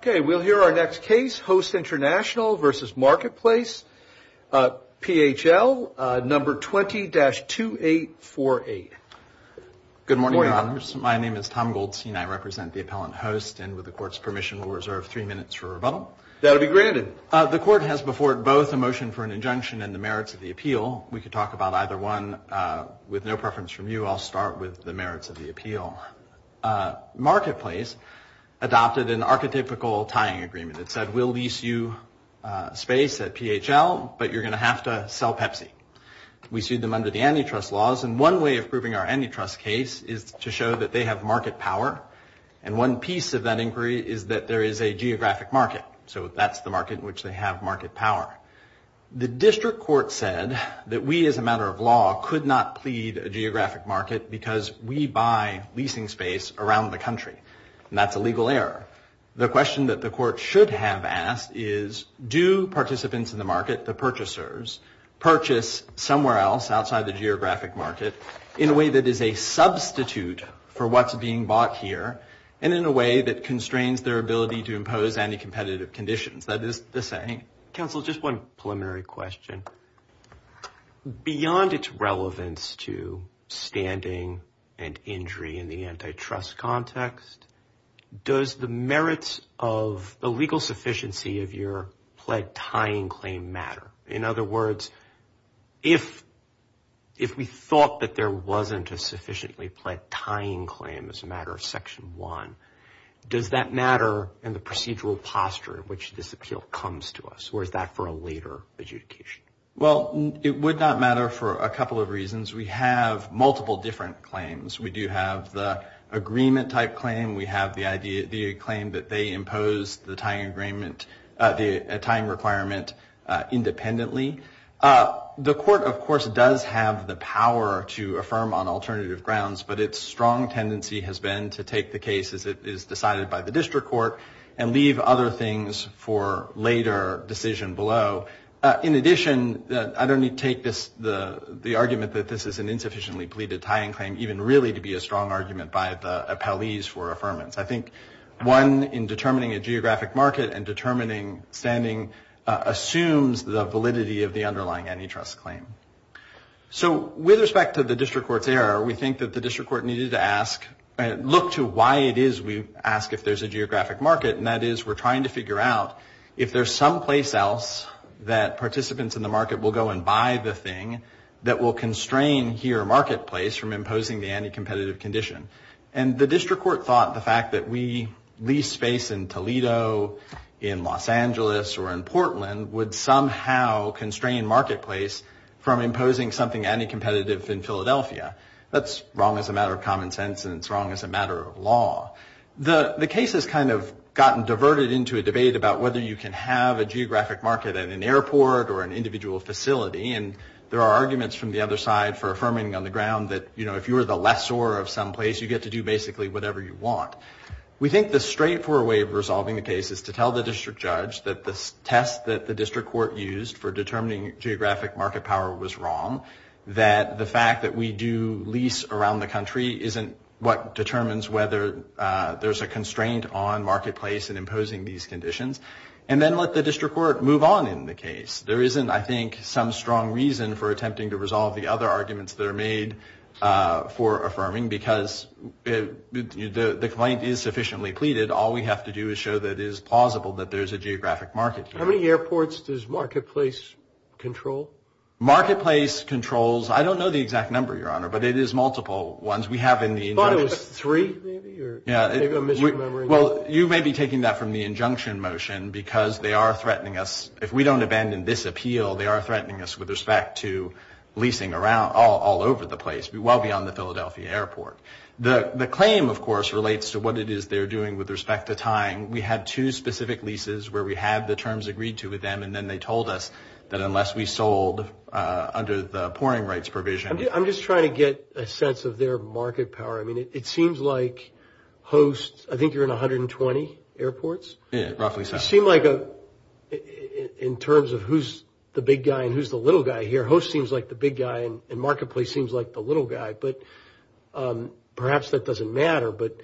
Okay, we'll hear our next case, Host International v. Marketplace PHL, number 20-2848. Good morning, Your Honors. My name is Tom Goldstein. I represent the appellant host, and with the Court's permission, we'll reserve three minutes for rebuttal. That'll be granted. The Court has before it both a motion for an injunction and the merits of the appeal. We could talk about either one. With no preference from you, I'll start with the merits of the appeal. Marketplace adopted an archetypical tying agreement that said, we'll lease you space at PHL, but you're going to have to sell Pepsi. We sued them under the antitrust laws, and one way of proving our antitrust case is to show that they have market power. And one piece of that inquiry is that there is a geographic market. So that's the market in which they have market power. The District Court said that we, as a matter of law, could not plead a geographic market because we buy leasing space around the country, and that's a legal error. The question that the Court should have asked is, do participants in the market, the purchasers, purchase somewhere else outside the geographic market in a way that is a substitute for what's being bought here and in a way that constrains their ability to impose any competitive conditions? That is the saying. Counsel, just one preliminary question. Beyond its relevance to standing and injury in the antitrust context, does the merits of the legal sufficiency of your pled tying claim matter? In other words, if we thought that there wasn't a sufficiently pled tying claim as a matter of Section 1, does that matter in the procedural posture in which this appeal comes to us, or is that for a later adjudication? Well, it would not matter for a couple of reasons. We have multiple different claims. We do have the agreement-type claim. We have the claim that they imposed the tying requirement independently. The Court, of course, does have the power to affirm on alternative grounds, but its strong tendency has been to take the case as it is decided by the district court and leave other things for later decision below. In addition, I don't need to take the argument that this is an insufficiently pleaded tying claim even really to be a strong argument by the appellees for affirmance. I think one in determining a geographic market and determining standing assumes the validity of the underlying antitrust claim. So with respect to the district court's error, we think that the district court needed to ask and look to why it is we ask if there's a geographic market, and that is we're trying to figure out if there's someplace else that participants in the market will go and buy the thing that will constrain here a marketplace from imposing the anticompetitive condition. And the district court thought the fact that we lease space in Toledo, in Los Angeles, or in Portland would somehow constrain marketplace from imposing something anticompetitive in Philadelphia. That's wrong as a matter of common sense, and it's wrong as a matter of law. The case has kind of gotten diverted into a debate about whether you can have a geographic market at an airport or an individual facility, and there are arguments from the other side for affirming on the ground that, you know, if you were the lessor of someplace, you get to do basically whatever you want. We think the straightforward way of resolving the case is to tell the district judge that the test that the district court used for determining geographic market power was wrong, that the fact that we do lease around the country isn't what determines whether there's a constraint on marketplace in imposing these conditions, and then let the district court move on in the case. There isn't, I think, some strong reason for attempting to resolve the other arguments that are made for affirming because the complaint is sufficiently pleaded. All we have to do is show that it is plausible that there's a geographic market here. How many airports does marketplace control? Marketplace controls, I don't know the exact number, Your Honor, but it is multiple ones. We have in the injunction. I thought it was three, maybe, or maybe I'm misremembering. Well, you may be taking that from the injunction motion because they are threatening us. If we don't abandon this appeal, they are threatening us with respect to leasing all over the place, well beyond the Philadelphia airport. The claim, of course, relates to what it is they're doing with respect to tying. We had two specific leases where we had the terms agreed to with them, and then they told us that unless we sold under the pouring rights provision. I'm just trying to get a sense of their market power. I mean, it seems like hosts, I think you're in 120 airports? Yeah, roughly so. It seemed like in terms of who's the big guy and who's the little guy here, your host seems like the big guy and Marketplace seems like the little guy, but perhaps that doesn't matter. But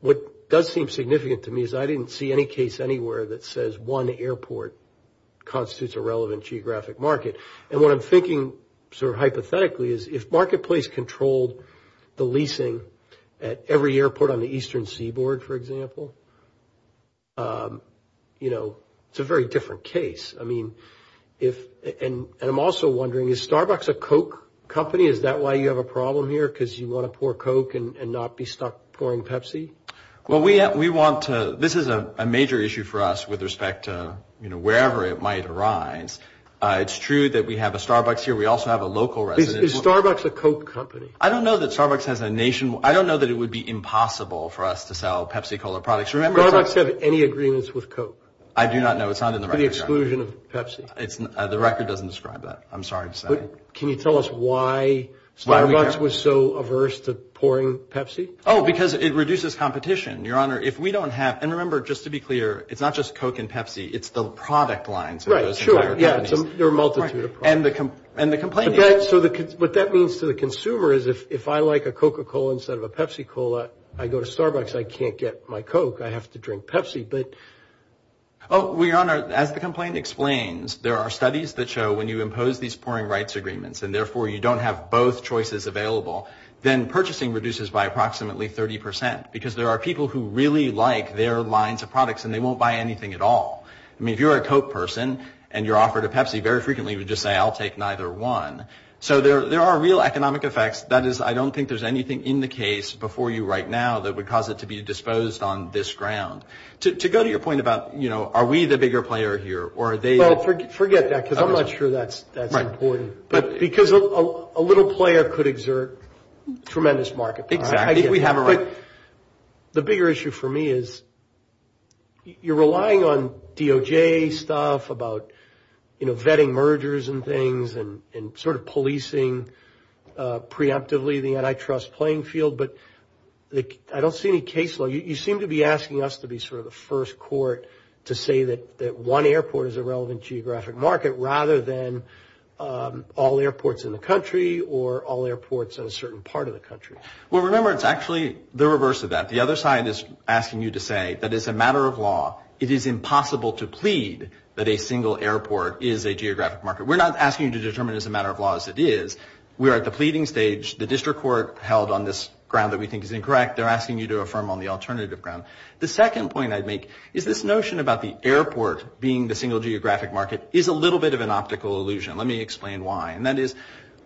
what does seem significant to me is I didn't see any case anywhere that says one airport constitutes a relevant geographic market. And what I'm thinking sort of hypothetically is if Marketplace controlled the leasing at every airport on the Eastern Seaboard, for example, you know, it's a very different case. And I'm also wondering, is Starbucks a Coke company? Is that why you have a problem here, because you want to pour Coke and not be stuck pouring Pepsi? Well, this is a major issue for us with respect to wherever it might arise. It's true that we have a Starbucks here. We also have a local resident. Is Starbucks a Coke company? I don't know that Starbucks has a nation. I don't know that it would be impossible for us to sell Pepsi-Cola products. Does Starbucks have any agreements with Coke? I do not know. It's not in the record, right? For the exclusion of Pepsi. The record doesn't describe that. I'm sorry to say. But can you tell us why Starbucks was so averse to pouring Pepsi? Oh, because it reduces competition. Your Honor, if we don't have – and remember, just to be clear, it's not just Coke and Pepsi. It's the product lines of those entire companies. Right, sure. Yeah, there are a multitude of products. And the complaint is? So what that means to the consumer is if I like a Coca-Cola instead of a Pepsi-Cola, I go to Starbucks, I can't get my Coke. I have to drink Pepsi. Oh, well, Your Honor, as the complaint explains, there are studies that show when you impose these pouring rights agreements and therefore you don't have both choices available, then purchasing reduces by approximately 30 percent because there are people who really like their lines of products and they won't buy anything at all. I mean, if you're a Coke person and you're offered a Pepsi, very frequently you would just say, I'll take neither one. So there are real economic effects. That is, I don't think there's anything in the case before you right now that would cause it to be disposed on this ground. To go to your point about, you know, are we the bigger player here or are they? Well, forget that because I'm not sure that's important. Right. Because a little player could exert tremendous market power. Exactly. I think we have a right. The bigger issue for me is you're relying on DOJ stuff about, you know, vetting mergers and things and sort of policing preemptively the antitrust playing field, but I don't see any case law. You seem to be asking us to be sort of the first court to say that one airport is a relevant geographic market rather than all airports in the country or all airports in a certain part of the country. Well, remember, it's actually the reverse of that. The other side is asking you to say that it's a matter of law. It is impossible to plead that a single airport is a geographic market. We're not asking you to determine it's a matter of law as it is. We are at the pleading stage. The district court held on this ground that we think is incorrect. They're asking you to affirm on the alternative ground. The second point I'd make is this notion about the airport being the single geographic market is a little bit of an optical illusion. Let me explain why. And that is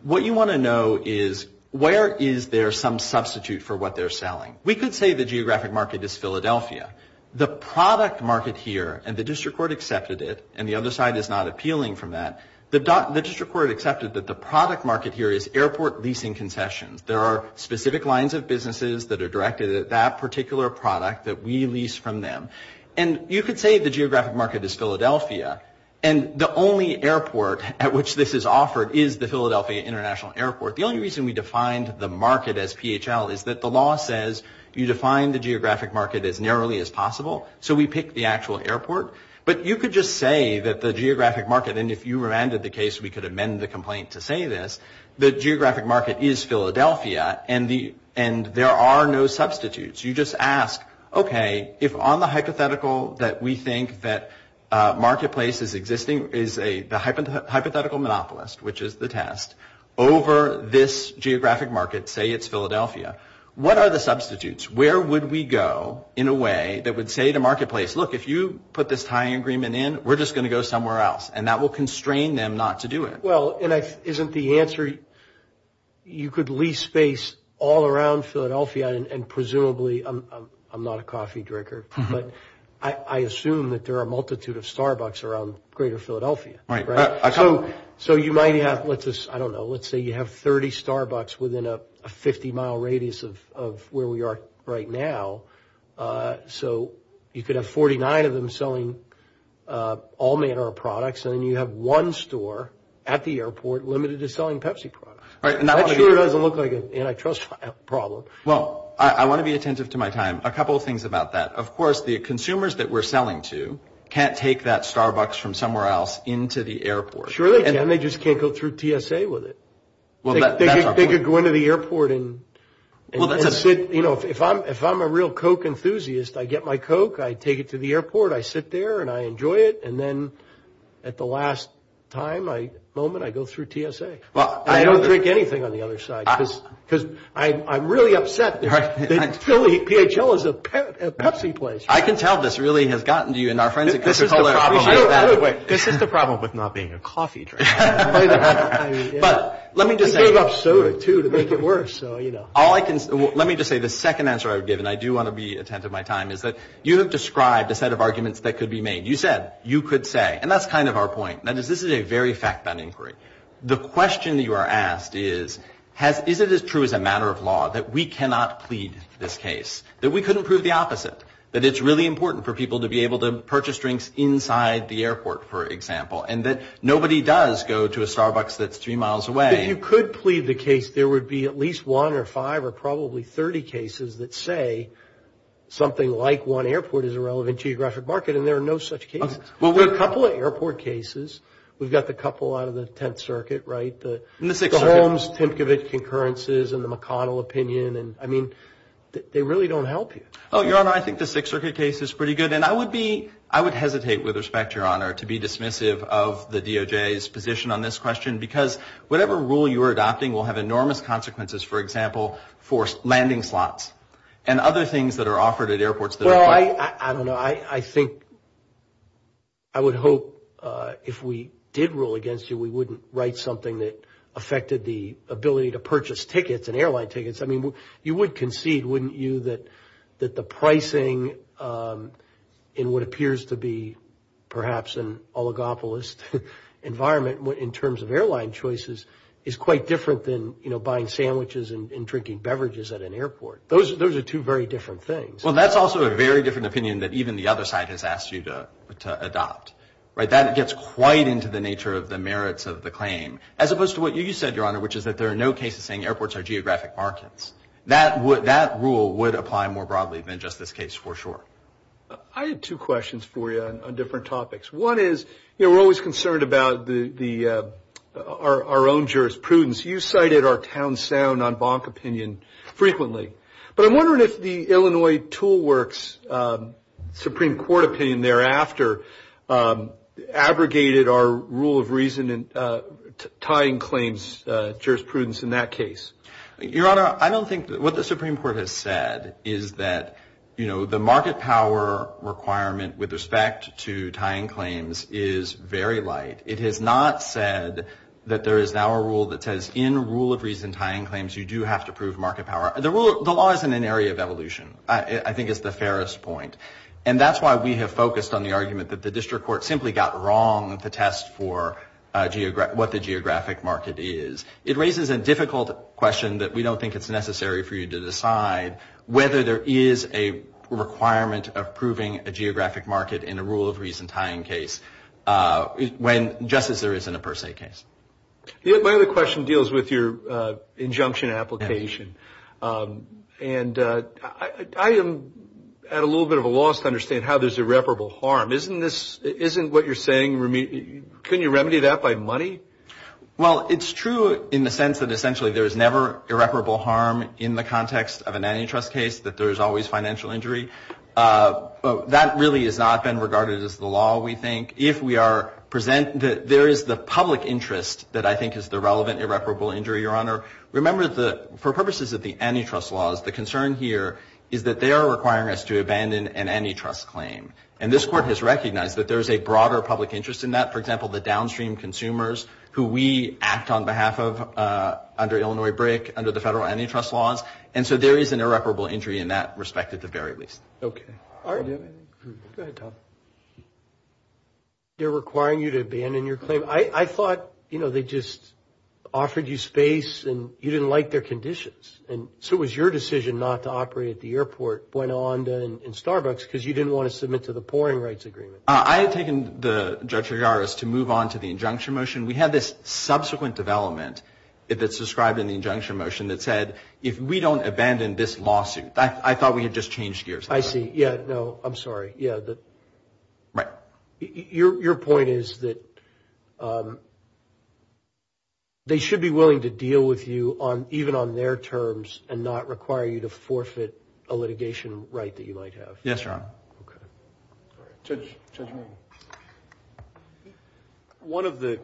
what you want to know is where is there some substitute for what they're selling. We could say the geographic market is Philadelphia. The product market here, and the district court accepted it, and the other side is not appealing from that, the district court accepted that the product market here is airport leasing concessions. There are specific lines of businesses that are directed at that particular product that we lease from them. And you could say the geographic market is Philadelphia, and the only airport at which this is offered is the Philadelphia International Airport. The only reason we defined the market as PHL is that the law says you define the geographic market as narrowly as possible, so we pick the actual airport. But you could just say that the geographic market, and if you remanded the case, we could amend the complaint to say this, the geographic market is Philadelphia, and there are no substitutes. You just ask, okay, if on the hypothetical that we think that marketplace is existing is the hypothetical monopolist, which is the test, over this geographic market, say it's Philadelphia, what are the substitutes? Where would we go in a way that would say to marketplace, look, if you put this tie agreement in, we're just going to go somewhere else, and that will constrain them not to do it. Well, isn't the answer, you could lease space all around Philadelphia, and presumably, I'm not a coffee drinker, but I assume that there are a multitude of Starbucks around greater Philadelphia. So you might have, I don't know, let's say you have 30 Starbucks within a 50-mile radius of where we are right now, so you could have 49 of them selling all manner of products, and then you have one store at the airport limited to selling Pepsi products. That sure doesn't look like an antitrust problem. Well, I want to be attentive to my time. A couple of things about that. Of course, the consumers that we're selling to can't take that Starbucks from somewhere else into the airport. Sure they can. They just can't go through TSA with it. They could go into the airport and sit. You know, if I'm a real Coke enthusiast, I get my Coke, I take it to the airport, I sit there, and I enjoy it, and then at the last time, moment, I go through TSA. I don't drink anything on the other side because I'm really upset that PhL is a Pepsi place. I can tell this really has gotten to you, and our friends at Coca-Cola appreciate that. This is the problem with not being a coffee drinker. But let me just say the second answer I would give, and I do want to be attentive to my time, is that you have described a set of arguments that could be made. You said you could say, and that's kind of our point, that this is a very fact-bound inquiry. The question that you are asked is, is it as true as a matter of law that we cannot plead this case, that we couldn't prove the opposite, that it's really important for people to be able to purchase drinks inside the airport, for example, and that nobody does go to a Starbucks that's three miles away? If you could plead the case, there would be at least one or five or probably 30 cases that say something like one airport is a relevant geographic market, and there are no such cases. There are a couple of airport cases. We've got the couple out of the Tenth Circuit, right? The Holmes-Tempkowitz concurrences and the McConnell opinion, and, I mean, they really don't help you. Oh, Your Honor, I think the Sixth Circuit case is pretty good, and I would hesitate with respect, Your Honor, to be dismissive of the DOJ's position on this question because whatever rule you are adopting will have enormous consequences, for example, for landing slots and other things that are offered at airports that are closed. Well, I don't know. I think I would hope if we did rule against you we wouldn't write something that affected the ability to purchase tickets and airline tickets. I mean, you would concede, wouldn't you, that the pricing in what appears to be perhaps an oligopolist environment in terms of airline choices is quite different than, you know, buying sandwiches and drinking beverages at an airport. Those are two very different things. Well, that's also a very different opinion that even the other side has asked you to adopt, right? That gets quite into the nature of the merits of the claim as opposed to what you said, Your Honor, which is that there are no cases saying airports are geographic markets. That rule would apply more broadly than just this case, for sure. I have two questions for you on different topics. One is, you know, we're always concerned about our own jurisprudence. You cited our town sound en banc opinion frequently, but I'm wondering if the Illinois Tool Works Supreme Court opinion thereafter abrogated our rule of reason and tying claims jurisprudence in that case. Your Honor, I don't think what the Supreme Court has said is that, you know, the market power requirement with respect to tying claims is very light. It has not said that there is now a rule that says in rule of reason tying claims you do have to prove market power. The law is in an area of evolution, I think is the fairest point. And that's why we have focused on the argument that the district court simply got wrong to test for what the geographic market is. It raises a difficult question that we don't think it's necessary for you to decide whether there is a requirement of proving a geographic market in a rule of reason tying case just as there is in a per se case. My other question deals with your injunction application. And I am at a little bit of a loss to understand how there's irreparable harm. Isn't this, isn't what you're saying, can you remedy that by money? Well, it's true in the sense that essentially there's never irreparable harm in the context of an antitrust case, that there's always financial injury. That really has not been regarded as the law, we think. If we are present, there is the public interest that I think is the relevant irreparable injury, Your Honor. Remember, for purposes of the antitrust laws, the concern here is that they are requiring us to abandon an antitrust claim. And this court has recognized that there is a broader public interest in that. For example, the downstream consumers who we act on behalf of under Illinois BRIC, under the federal antitrust laws. And so there is an irreparable injury in that respect at the very least. Okay. Go ahead, Tom. They're requiring you to abandon your claim. I thought, you know, they just offered you space, and you didn't like their conditions. And so it was your decision not to operate at the airport, went on to in Starbucks because you didn't want to submit to the Pouring Rights Agreement. I had taken the, Judge Ligaris, to move on to the injunction motion. We had this subsequent development that's described in the injunction motion that said, if we don't abandon this lawsuit. I thought we had just changed gears. I see. Yeah. No, I'm sorry. Yeah. Right. Your point is that they should be willing to deal with you even on their terms and not require you to forfeit a litigation right that you might have. Yes, Your Honor. Okay. All right. Judge Mayne. One of the,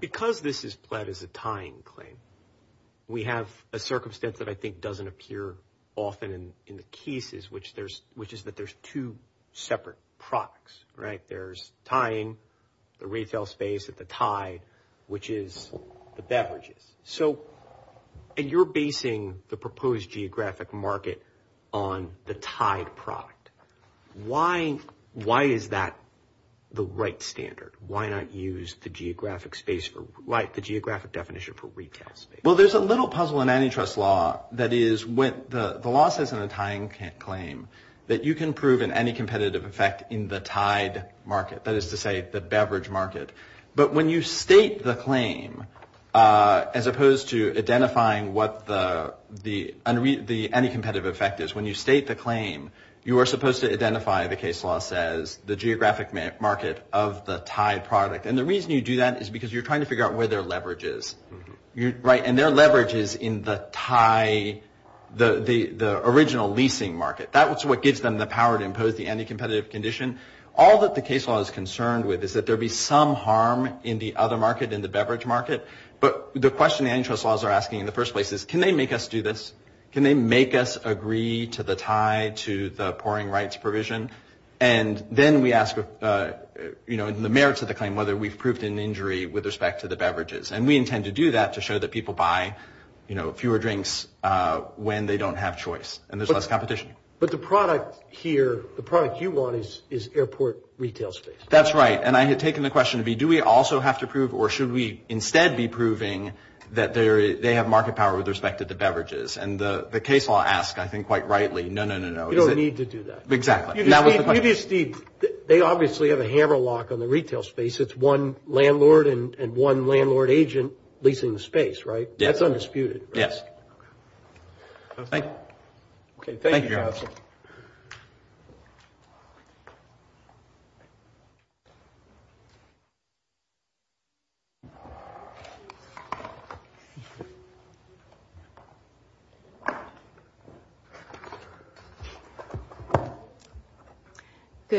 because this is pled as a tying claim, we have a circumstance that I think doesn't appear often in the cases, which is that there's two separate products, right? There's tying, the retail space at the tie, which is the beverages. So, and you're basing the proposed geographic market on the tied product. Why is that the right standard? Why not use the geographic space, the geographic definition for retail space? Well, there's a little puzzle in antitrust law that is when the law says in a tying claim that you can prove an anticompetitive effect in the tied market. That is to say, the beverage market. But when you state the claim, as opposed to identifying what the anticompetitive effect is, when you state the claim, you are supposed to identify, the case law says, the geographic market of the tied product. And the reason you do that is because you're trying to figure out where their leverage is. Right? And their leverage is in the tie, the original leasing market. That's what gives them the power to impose the anticompetitive condition. All that the case law is concerned with is that there be some harm in the other market, in the beverage market. But the question antitrust laws are asking in the first place is, can they make us do this? Can they make us agree to the tie, to the pouring rights provision? And then we ask, you know, in the merits of the claim, whether we've proved an injury with respect to the beverages. And we intend to do that to show that people buy, you know, fewer drinks when they don't have choice and there's less competition. But the product here, the product you want is airport retail space. That's right. And I had taken the question to be, do we also have to prove or should we instead be proving that they have market power with respect to the beverages? And the case law asks, I think quite rightly, no, no, no, no. You don't need to do that. Exactly. They obviously have a hammer lock on the retail space. It's one landlord and one landlord agent leasing the space, right? That's undisputed. Yes. Thank you. Okay. Good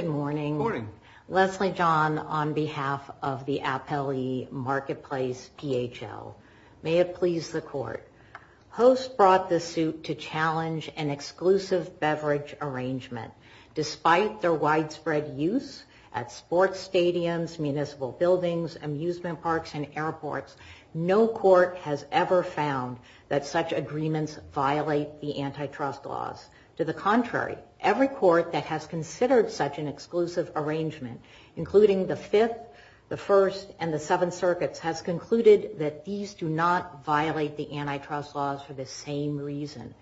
morning. Good morning. Leslie John on behalf of the Appellee Marketplace, PHL. May it please the court. HOST brought this suit to challenge an exclusive beverage arrangement. Despite their widespread use at sports stadiums, municipal buildings, amusement parks, and airports, no court has ever found that such agreements violate the antitrust laws. To the contrary, every court that has considered such an exclusive arrangement, including the Fifth, the First, and the Seventh Circuits, has concluded that these do not violate the antitrust laws for the same reason.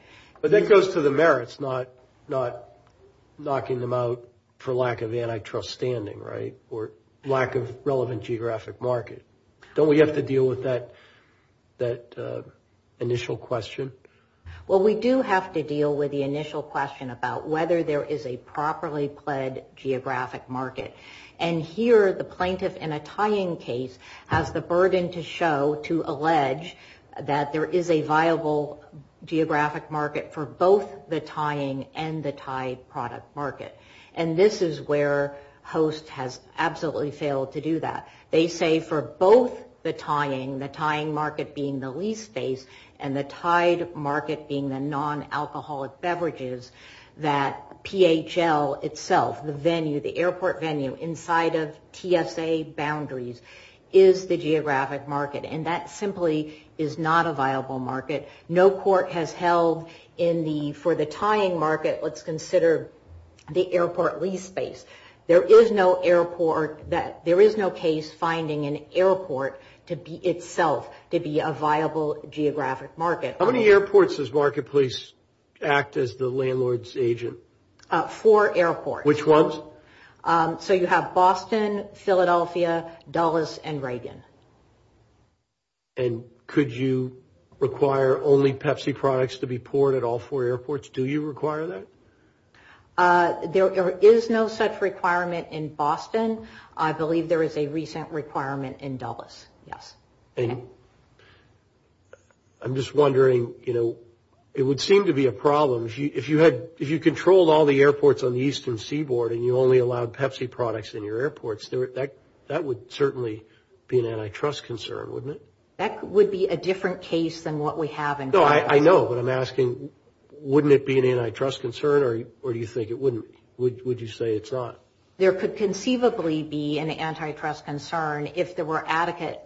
But that goes to the merits, not knocking them out for lack of antitrust standing, right, or lack of relevant geographic market. Don't we have to deal with that initial question? Well, we do have to deal with the initial question about whether there is a properly pled geographic market. And here, the plaintiff in a tying case has the burden to show, to allege, that there is a viable geographic market for both the tying and the tied product market. And this is where HOST has absolutely failed to do that. They say for both the tying, the tying market being the lease space, and the tied market being the non-alcoholic beverages, that PHL itself, the venue, the airport venue, inside of TSA boundaries is the geographic market. And that simply is not a viable market. No court has held in the, for the tying market, let's consider the airport lease space. There is no airport that, there is no case finding an airport to be itself, to be a viable geographic market. How many airports does Marketplace act as the landlord's agent? Four airports. Which ones? So you have Boston, Philadelphia, Dulles, and Reagan. And could you require only Pepsi products to be poured at all four airports? Do you require that? There is no such requirement in Boston. I believe there is a recent requirement in Dulles, yes. And I'm just wondering, you know, it would seem to be a problem. If you had, if you controlled all the airports on the eastern seaboard and you only allowed Pepsi products in your airports, that would certainly be an antitrust concern, wouldn't it? That would be a different case than what we have in Boston. I know, but I'm asking, wouldn't it be an antitrust concern, or do you think it wouldn't? Would you say it's not? There could conceivably be an antitrust concern if there were adequate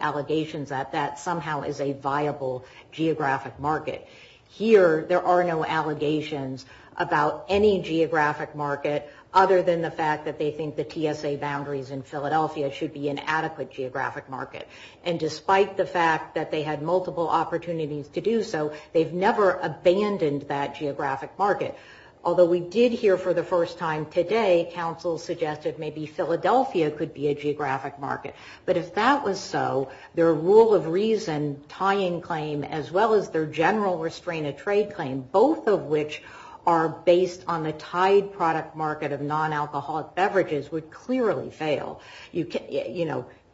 allegations that that somehow is a viable geographic market. Here there are no allegations about any geographic market other than the fact that they think the TSA boundaries in Philadelphia should be an adequate geographic market. And despite the fact that they had multiple opportunities to do so, they've never abandoned that geographic market. Although we did hear for the first time today, counsel suggested maybe Philadelphia could be a geographic market. But if that was so, their rule of reason tying claim, as well as their general restraint of trade claim, both of which are based on a tied product market of non-alcoholic beverages, would clearly fail.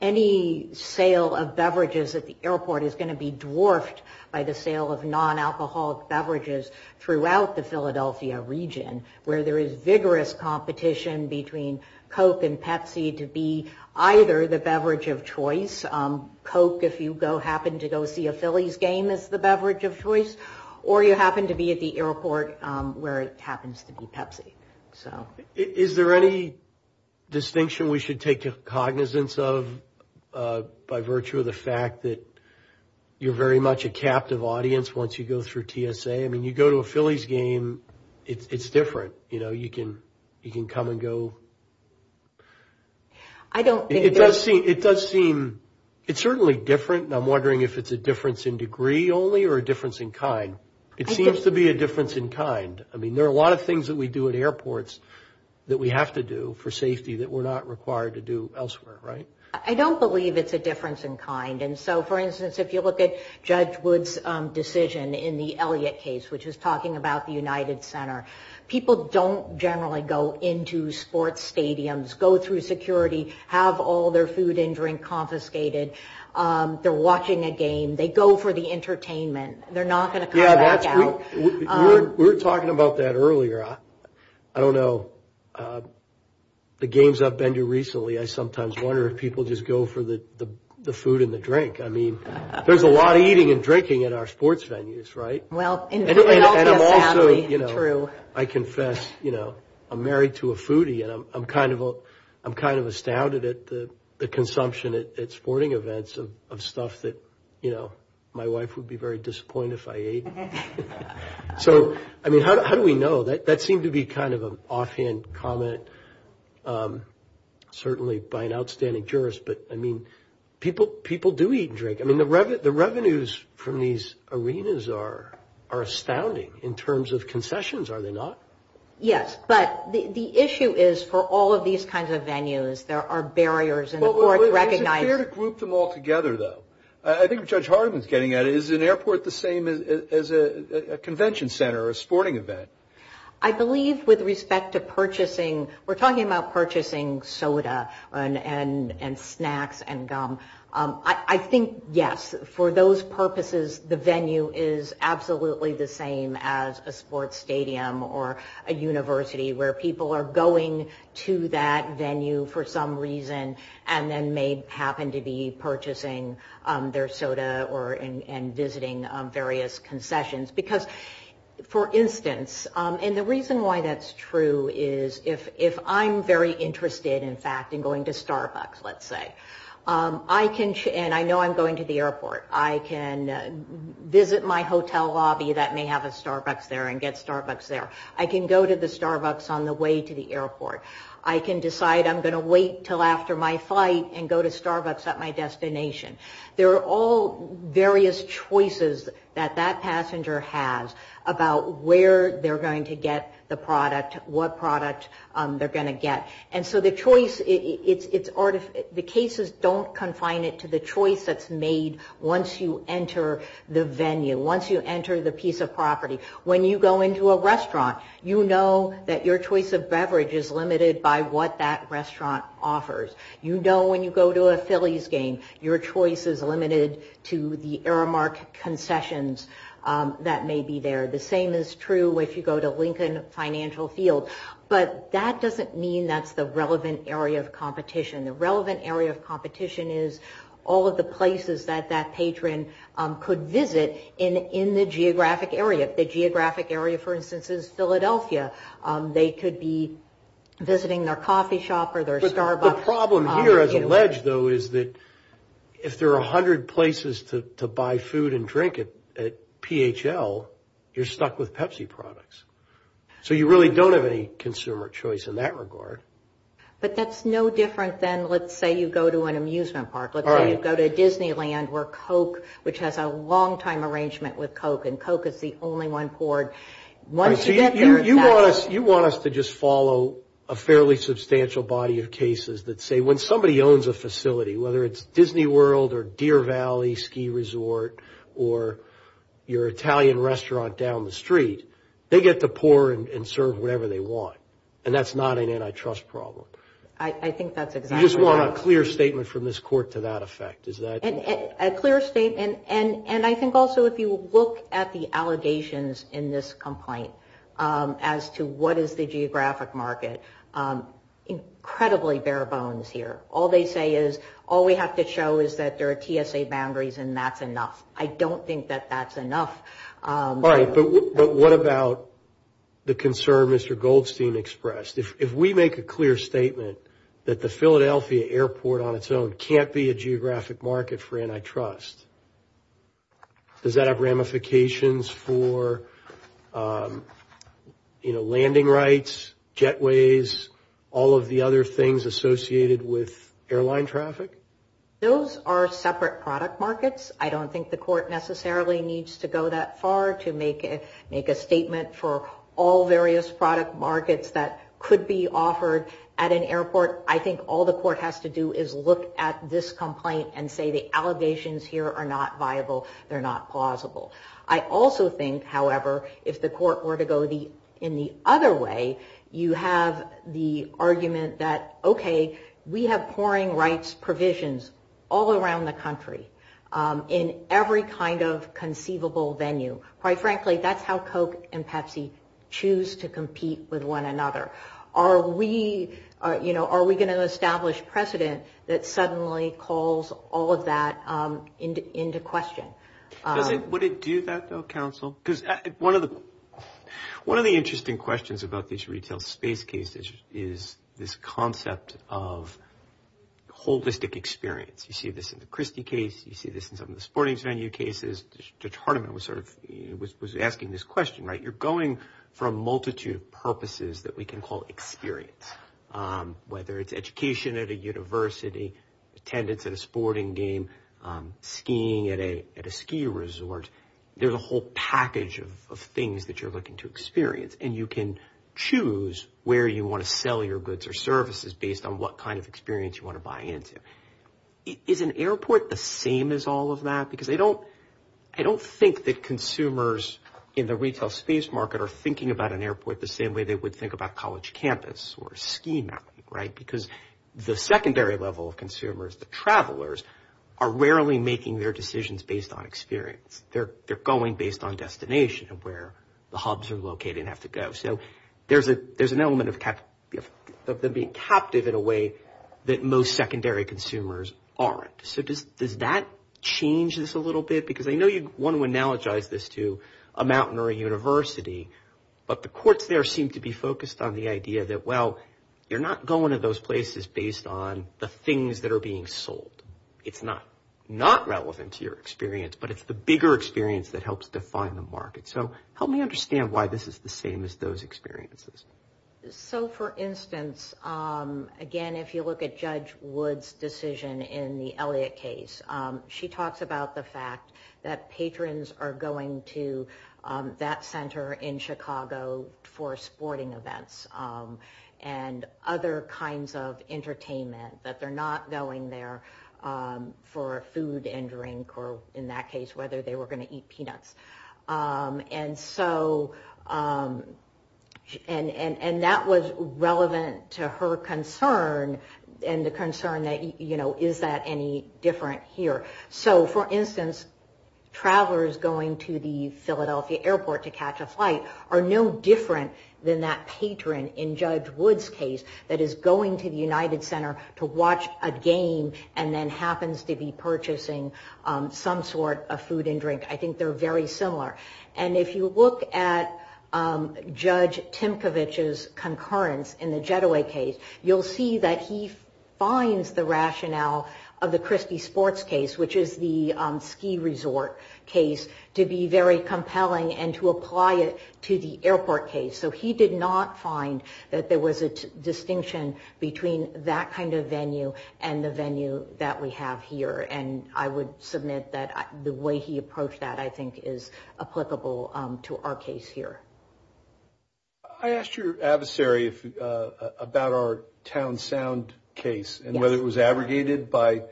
Any sale of beverages at the airport is going to be dwarfed by the sale of non-alcoholic beverages throughout the Philadelphia region, where there is vigorous competition between Coke and Pepsi to be either the beverage of choice. Coke, if you happen to go see a Phillies game, is the beverage of choice, or you happen to be at the airport where it happens to be Pepsi. Is there any distinction we should take cognizance of, by virtue of the fact that you're very much a captive audience once you go through TSA? I mean, you go to a Phillies game, it's different. You know, you can come and go. It does seem, it's certainly different, and I'm wondering if it's a difference in degree only or a difference in kind. It seems to be a difference in kind. I mean, there are a lot of things that we do at airports that we have to do for safety that we're not required to do elsewhere, right? I don't believe it's a difference in kind. And so, for instance, if you look at Judge Wood's decision in the Elliott case, which is talking about the United Center, people don't generally go into sports stadiums, go through security, have all their food and drink confiscated. They're watching a game. They go for the entertainment. They're not going to come back out. We were talking about that earlier. I don't know, the games I've been to recently, I sometimes wonder if people just go for the food and the drink. I mean, there's a lot of eating and drinking at our sports venues, right? Well, in all this family, true. I confess, you know, I'm married to a foodie, and I'm kind of astounded at the consumption at sporting events of stuff that, you know, my wife would be very disappointed if I ate. So, I mean, how do we know? That seemed to be kind of an offhand comment, certainly by an outstanding jurist. But, I mean, people do eat and drink. I mean, the revenues from these arenas are astounding in terms of concessions, are they not? Yes, but the issue is for all of these kinds of venues, there are barriers in the courts recognizing. Well, is it fair to group them all together, though? I think what Judge Hardiman is getting at is, is an airport the same as a convention center or a sporting event? I believe with respect to purchasing, we're talking about purchasing soda and snacks and gum. I think, yes, for those purposes, the venue is absolutely the same as a sports stadium or a university where people are going to that venue for some reason and then may happen to be purchasing their soda and visiting various concessions. Because, for instance, and the reason why that's true is, if I'm very interested, in fact, in going to Starbucks, let's say, and I know I'm going to the airport, I can visit my hotel lobby that may have a Starbucks there and get Starbucks there. I can go to the Starbucks on the way to the airport. I can decide I'm going to wait until after my flight and go to Starbucks at my destination. There are all various choices that that passenger has about where they're going to get the product, what product they're going to get. And so the choice, the cases don't confine it to the choice that's made once you enter the venue, once you enter the piece of property. When you go into a restaurant, you know that your choice of beverage is limited by what that restaurant offers. You know when you go to a Phillies game, your choice is limited to the Aramark concessions that may be there. The same is true if you go to Lincoln Financial Field. But that doesn't mean that's the relevant area of competition. The relevant area of competition is all of the places that that patron could visit in the geographic area. The geographic area, for instance, is Philadelphia. They could be visiting their coffee shop or their Starbucks. But the problem here, as alleged, though, is that if there are 100 places to buy food and drink at PHL, you're stuck with Pepsi products. So you really don't have any consumer choice in that regard. But that's no different than, let's say, you go to an amusement park. Let's say you go to Disneyland where Coke, which has a longtime arrangement with Coke, and Coke is the only one poured. Once you get there, that's it. You want us to just follow a fairly substantial body of cases that say when somebody owns a facility, whether it's Disney World or Deer Valley Ski Resort or your Italian restaurant down the street, they get to pour and serve whatever they want. And that's not an antitrust problem. I think that's exactly right. You just want a clear statement from this court to that effect. A clear statement. And I think also if you look at the allegations in this complaint as to what is the geographic market, incredibly bare bones here. All they say is all we have to show is that there are TSA boundaries and that's enough. I don't think that that's enough. But what about the concern Mr. Goldstein expressed? If we make a clear statement that the Philadelphia airport on its own can't be a geographic market for antitrust, does that have ramifications for, you know, landing rights, jetways, all of the other things associated with airline traffic? Those are separate product markets. I don't think the court necessarily needs to go that far to make a statement for all various product markets that could be offered at an airport. I think all the court has to do is look at this complaint and say the allegations here are not viable. They're not plausible. I also think, however, if the court were to go in the other way, you have the argument that, okay, we have pouring rights provisions all around the country in every kind of conceivable venue. Quite frankly, that's how Coke and Pepsi choose to compete with one another. Are we, you know, are we going to establish precedent that suddenly calls all of that into question? Would it do that, though, counsel? Because one of the interesting questions about these retail space cases is this concept of holistic experience. You see this in the Christie case. You see this in some of the sporting venue cases. Judge Hardiman was asking this question, right? You're going for a multitude of purposes that we can call experience, whether it's education at a university, attendance at a sporting game, skiing at a ski resort. There's a whole package of things that you're looking to experience, and you can choose where you want to sell your goods or services based on what kind of experience you want to buy into. Is an airport the same as all of that? Because I don't think that consumers in the retail space market are thinking about an airport the same way they would think about college campus or a ski mountain, right? Because the secondary level of consumers, the travelers, are rarely making their decisions based on experience. They're going based on destination and where the hubs are located and have to go. So there's an element of them being captive in a way that most secondary consumers aren't. So does that change this a little bit? Because I know you want to analogize this to a mountain or a university, but the courts there seem to be focused on the idea that, well, you're not going to those places based on the things that are being sold. It's not relevant to your experience, but it's the bigger experience that helps define the market. So help me understand why this is the same as those experiences. So, for instance, again, if you look at Judge Wood's decision in the Elliott case, she talks about the fact that patrons are going to that center in Chicago for sporting events and other kinds of entertainment, that they're not going there for food and drink or, in that case, whether they were going to eat peanuts. And that was relevant to her concern and the concern that, you know, is that any different here? So, for instance, travelers going to the Philadelphia airport to catch a flight are no different than that patron in Judge Wood's case that is going to the United Center to watch a game and then happens to be purchasing some sort of food and drink. I think they're very similar. And if you look at Judge Timkovich's concurrence in the Getaway case, you'll see that he finds the rationale of the Krispy Sports case, which is the ski resort case, to be very compelling and to apply it to the airport case. So he did not find that there was a distinction between that kind of venue and the venue that we have here. And I would submit that the way he approached that, I think, is applicable to our case here. I asked your adversary about our Town Sound case and whether it was abrogated by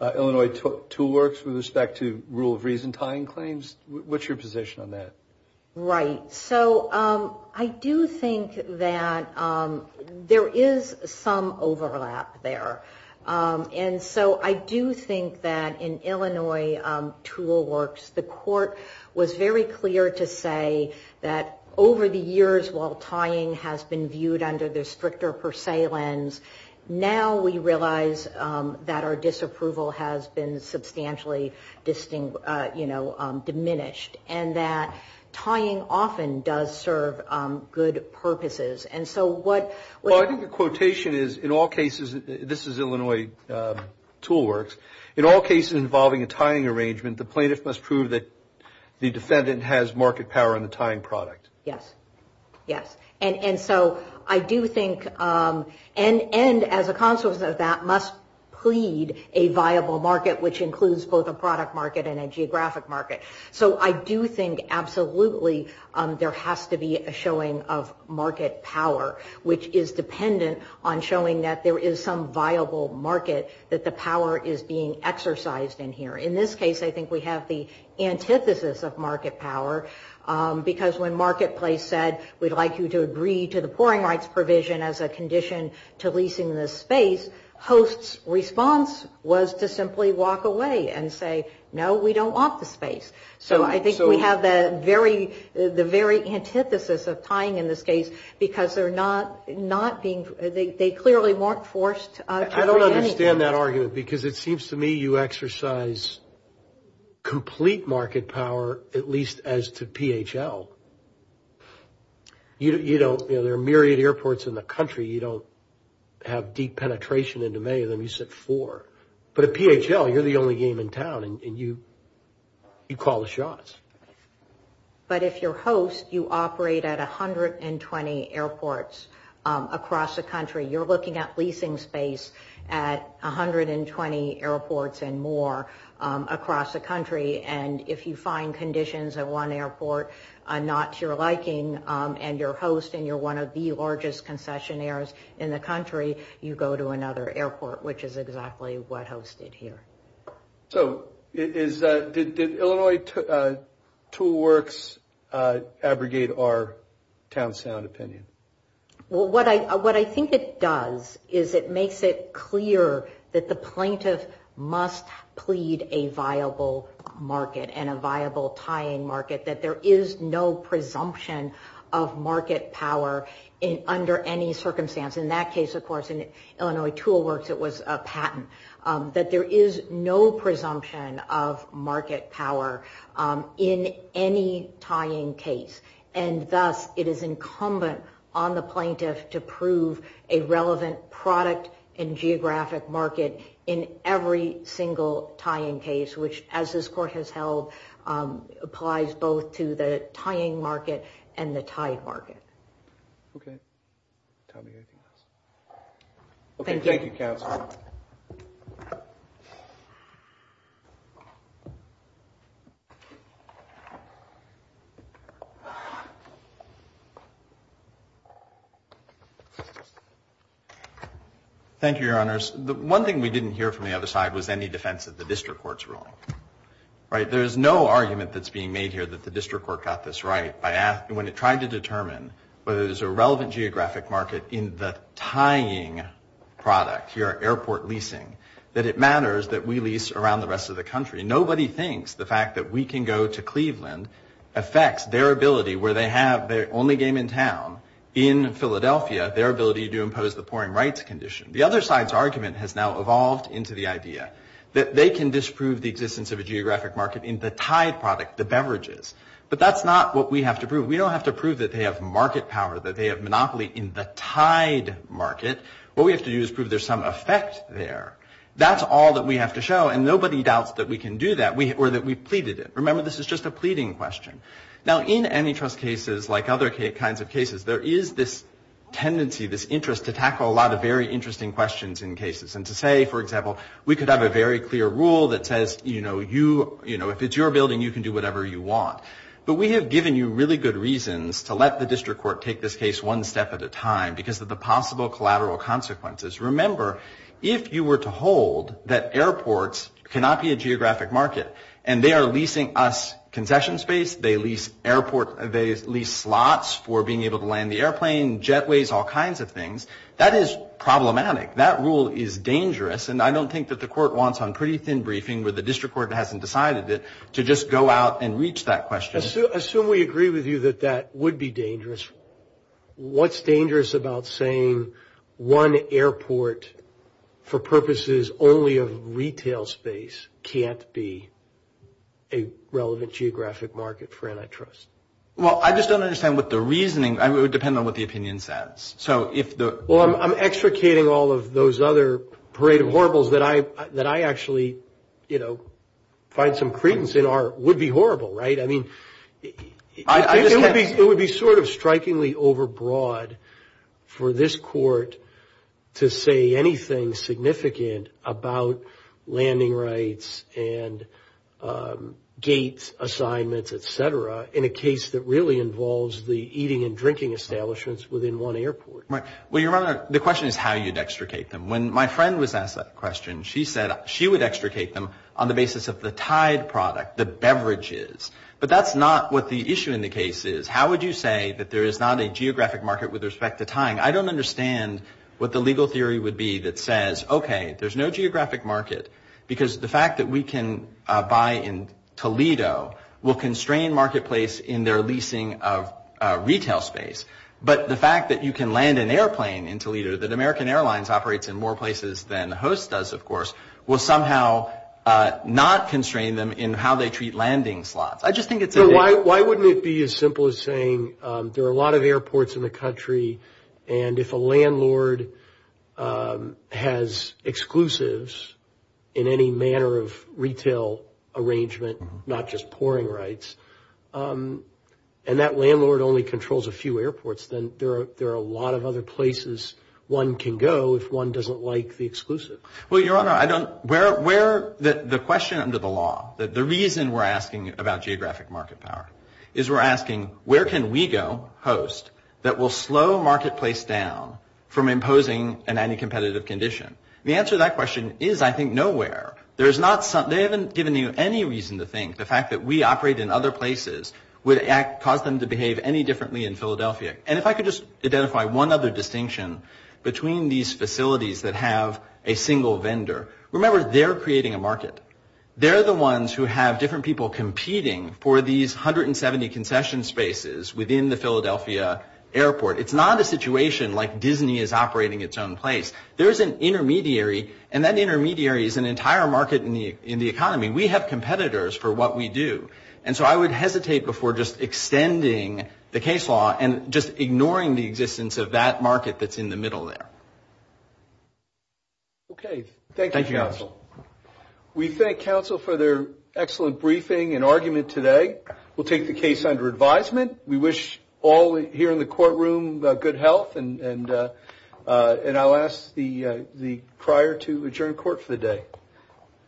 Illinois Tool Works with respect to rule of reason tying claims. What's your position on that? Right. So I do think that there is some overlap there. And so I do think that in Illinois Tool Works, the court was very clear to say that over the years while tying has been viewed under the stricter per se lens, now we realize that our disapproval has been substantially diminished and that tying often does serve good purposes. Well, I think the quotation is, in all cases, this is Illinois Tool Works, in all cases involving a tying arrangement, the plaintiff must prove that the defendant has market power in the tying product. Yes. Yes. And so I do think, and as a consequence of that, must plead a viable market, which includes both a product market and a geographic market. So I do think absolutely there has to be a showing of market power, which is dependent on showing that there is some viable market, that the power is being exercised in here. In this case, I think we have the antithesis of market power, because when Marketplace said we'd like you to agree to the pouring rights provision as a condition to leasing this space, response was to simply walk away and say, no, we don't want the space. So I think we have the very antithesis of tying in this case, because they're not being, they clearly weren't forced to agree. I don't understand that argument, because it seems to me you exercise complete market power, at least as to PHL. You know, there are myriad airports in the country. You don't have deep penetration into many of them. You sit four. But at PHL, you're the only game in town, and you call the shots. But if you're host, you operate at 120 airports across the country. You're looking at leasing space at 120 airports and more across the country. And if you find conditions at one airport not to your liking, and you're host, and you're one of the largest concessionaires in the country, you go to another airport, which is exactly what hosted here. So did Illinois Tool Works abrogate our town sound opinion? Well, what I think it does is it makes it clear that the plaintiff must plead a viable market and a viable tying market, that there is no presumption of market power under any circumstance. In that case, of course, in Illinois Tool Works, it was a patent, that there is no presumption of market power in any tying case. And thus, it is incumbent on the plaintiff to prove a relevant product and geographic market in every single tying case, which, as this court has held, applies both to the tying market and the tied market. Okay. Tommy, anything else? Thank you. Thank you, counsel. Thank you, Your Honors. The one thing we didn't hear from the other side was any defense of the district court's ruling. Right? There is no argument that's being made here that the district court got this right when it tried to determine whether there's a relevant geographic market in the tying product here, airport leasing, that it matters that we lease around the rest of the country. Nobody thinks the fact that we can go to Cleveland affects their ability where they have their only game in town in Philadelphia, their ability to impose the pouring rights condition. The other side's argument has now evolved into the idea that they can disprove the existence of a geographic market in the tied product, the beverages. But that's not what we have to prove. We don't have to prove that they have market power, that they have monopoly in the tied market. What we have to do is prove there's some effect there. That's all that we have to show. And nobody doubts that we can do that or that we pleaded it. Remember, this is just a pleading question. Now, in antitrust cases, like other kinds of cases, there is this tendency, this interest, to tackle a lot of very interesting questions in cases and to say, for example, we could have a very clear rule that says, you know, if it's your building, you can do whatever you want. But we have given you really good reasons to let the district court take this case one step at a time because of the possible collateral consequences. Remember, if you were to hold that airports cannot be a geographic market and they are leasing us concession space, they lease slots for being able to land the airplane, jetways, all kinds of things, that is problematic. That rule is dangerous, and I don't think that the court wants on pretty thin briefing where the district court hasn't decided it to just go out and reach that question. Assume we agree with you that that would be dangerous. What's dangerous about saying one airport for purposes only of retail space can't be a relevant geographic market for antitrust? Well, I just don't understand what the reasoning – it would depend on what the opinion says. Well, I'm extricating all of those other parade of horribles that I actually, you know, find some credence in would be horrible, right? I mean, it would be sort of strikingly overbroad for this court to say anything significant about landing rights and gates, assignments, et cetera, in a case that really involves the eating and drinking establishments within one airport. Well, Your Honor, the question is how you'd extricate them. When my friend was asked that question, she said she would extricate them on the basis of the tied product, the beverages. But that's not what the issue in the case is. How would you say that there is not a geographic market with respect to tying? I don't understand what the legal theory would be that says, okay, there's no geographic market because the fact that we can buy in Toledo will constrain marketplace in their leasing of retail space. But the fact that you can land an airplane in Toledo, that American Airlines operates in more places than Host does, of course, will somehow not constrain them in how they treat landing slots. I just think it's a – Well, why wouldn't it be as simple as saying there are a lot of airports in the country and if a landlord has exclusives in any manner of retail arrangement, not just pouring rights, and that landlord only controls a few airports, then there are a lot of other places one can go if one doesn't like the exclusive. Well, Your Honor, I don't – where – the question under the law, the reason we're asking about geographic market power, is we're asking where can we go, Host, that will slow marketplace down from imposing an anti-competitive condition. The answer to that question is, I think, nowhere. There is not – they haven't given you any reason to think the fact that we operate in other places would cause them to behave any differently in Philadelphia. And if I could just identify one other distinction between these facilities that have a single vendor. Remember, they're creating a market. They're the ones who have different people competing for these 170 concession spaces within the Philadelphia airport. It's not a situation like Disney is operating its own place. There is an intermediary, and that intermediary is an entire market in the economy. We have competitors for what we do. And so I would hesitate before just extending the case law and just ignoring the existence of that market that's in the middle there. Okay. Thank you, Counsel. Thank you, Counsel. We thank Counsel for their excellent briefing and argument today. We'll take the case under advisement. We wish all here in the courtroom good health, and I'll ask the crier to adjourn court for the day. Thank you. Thank you.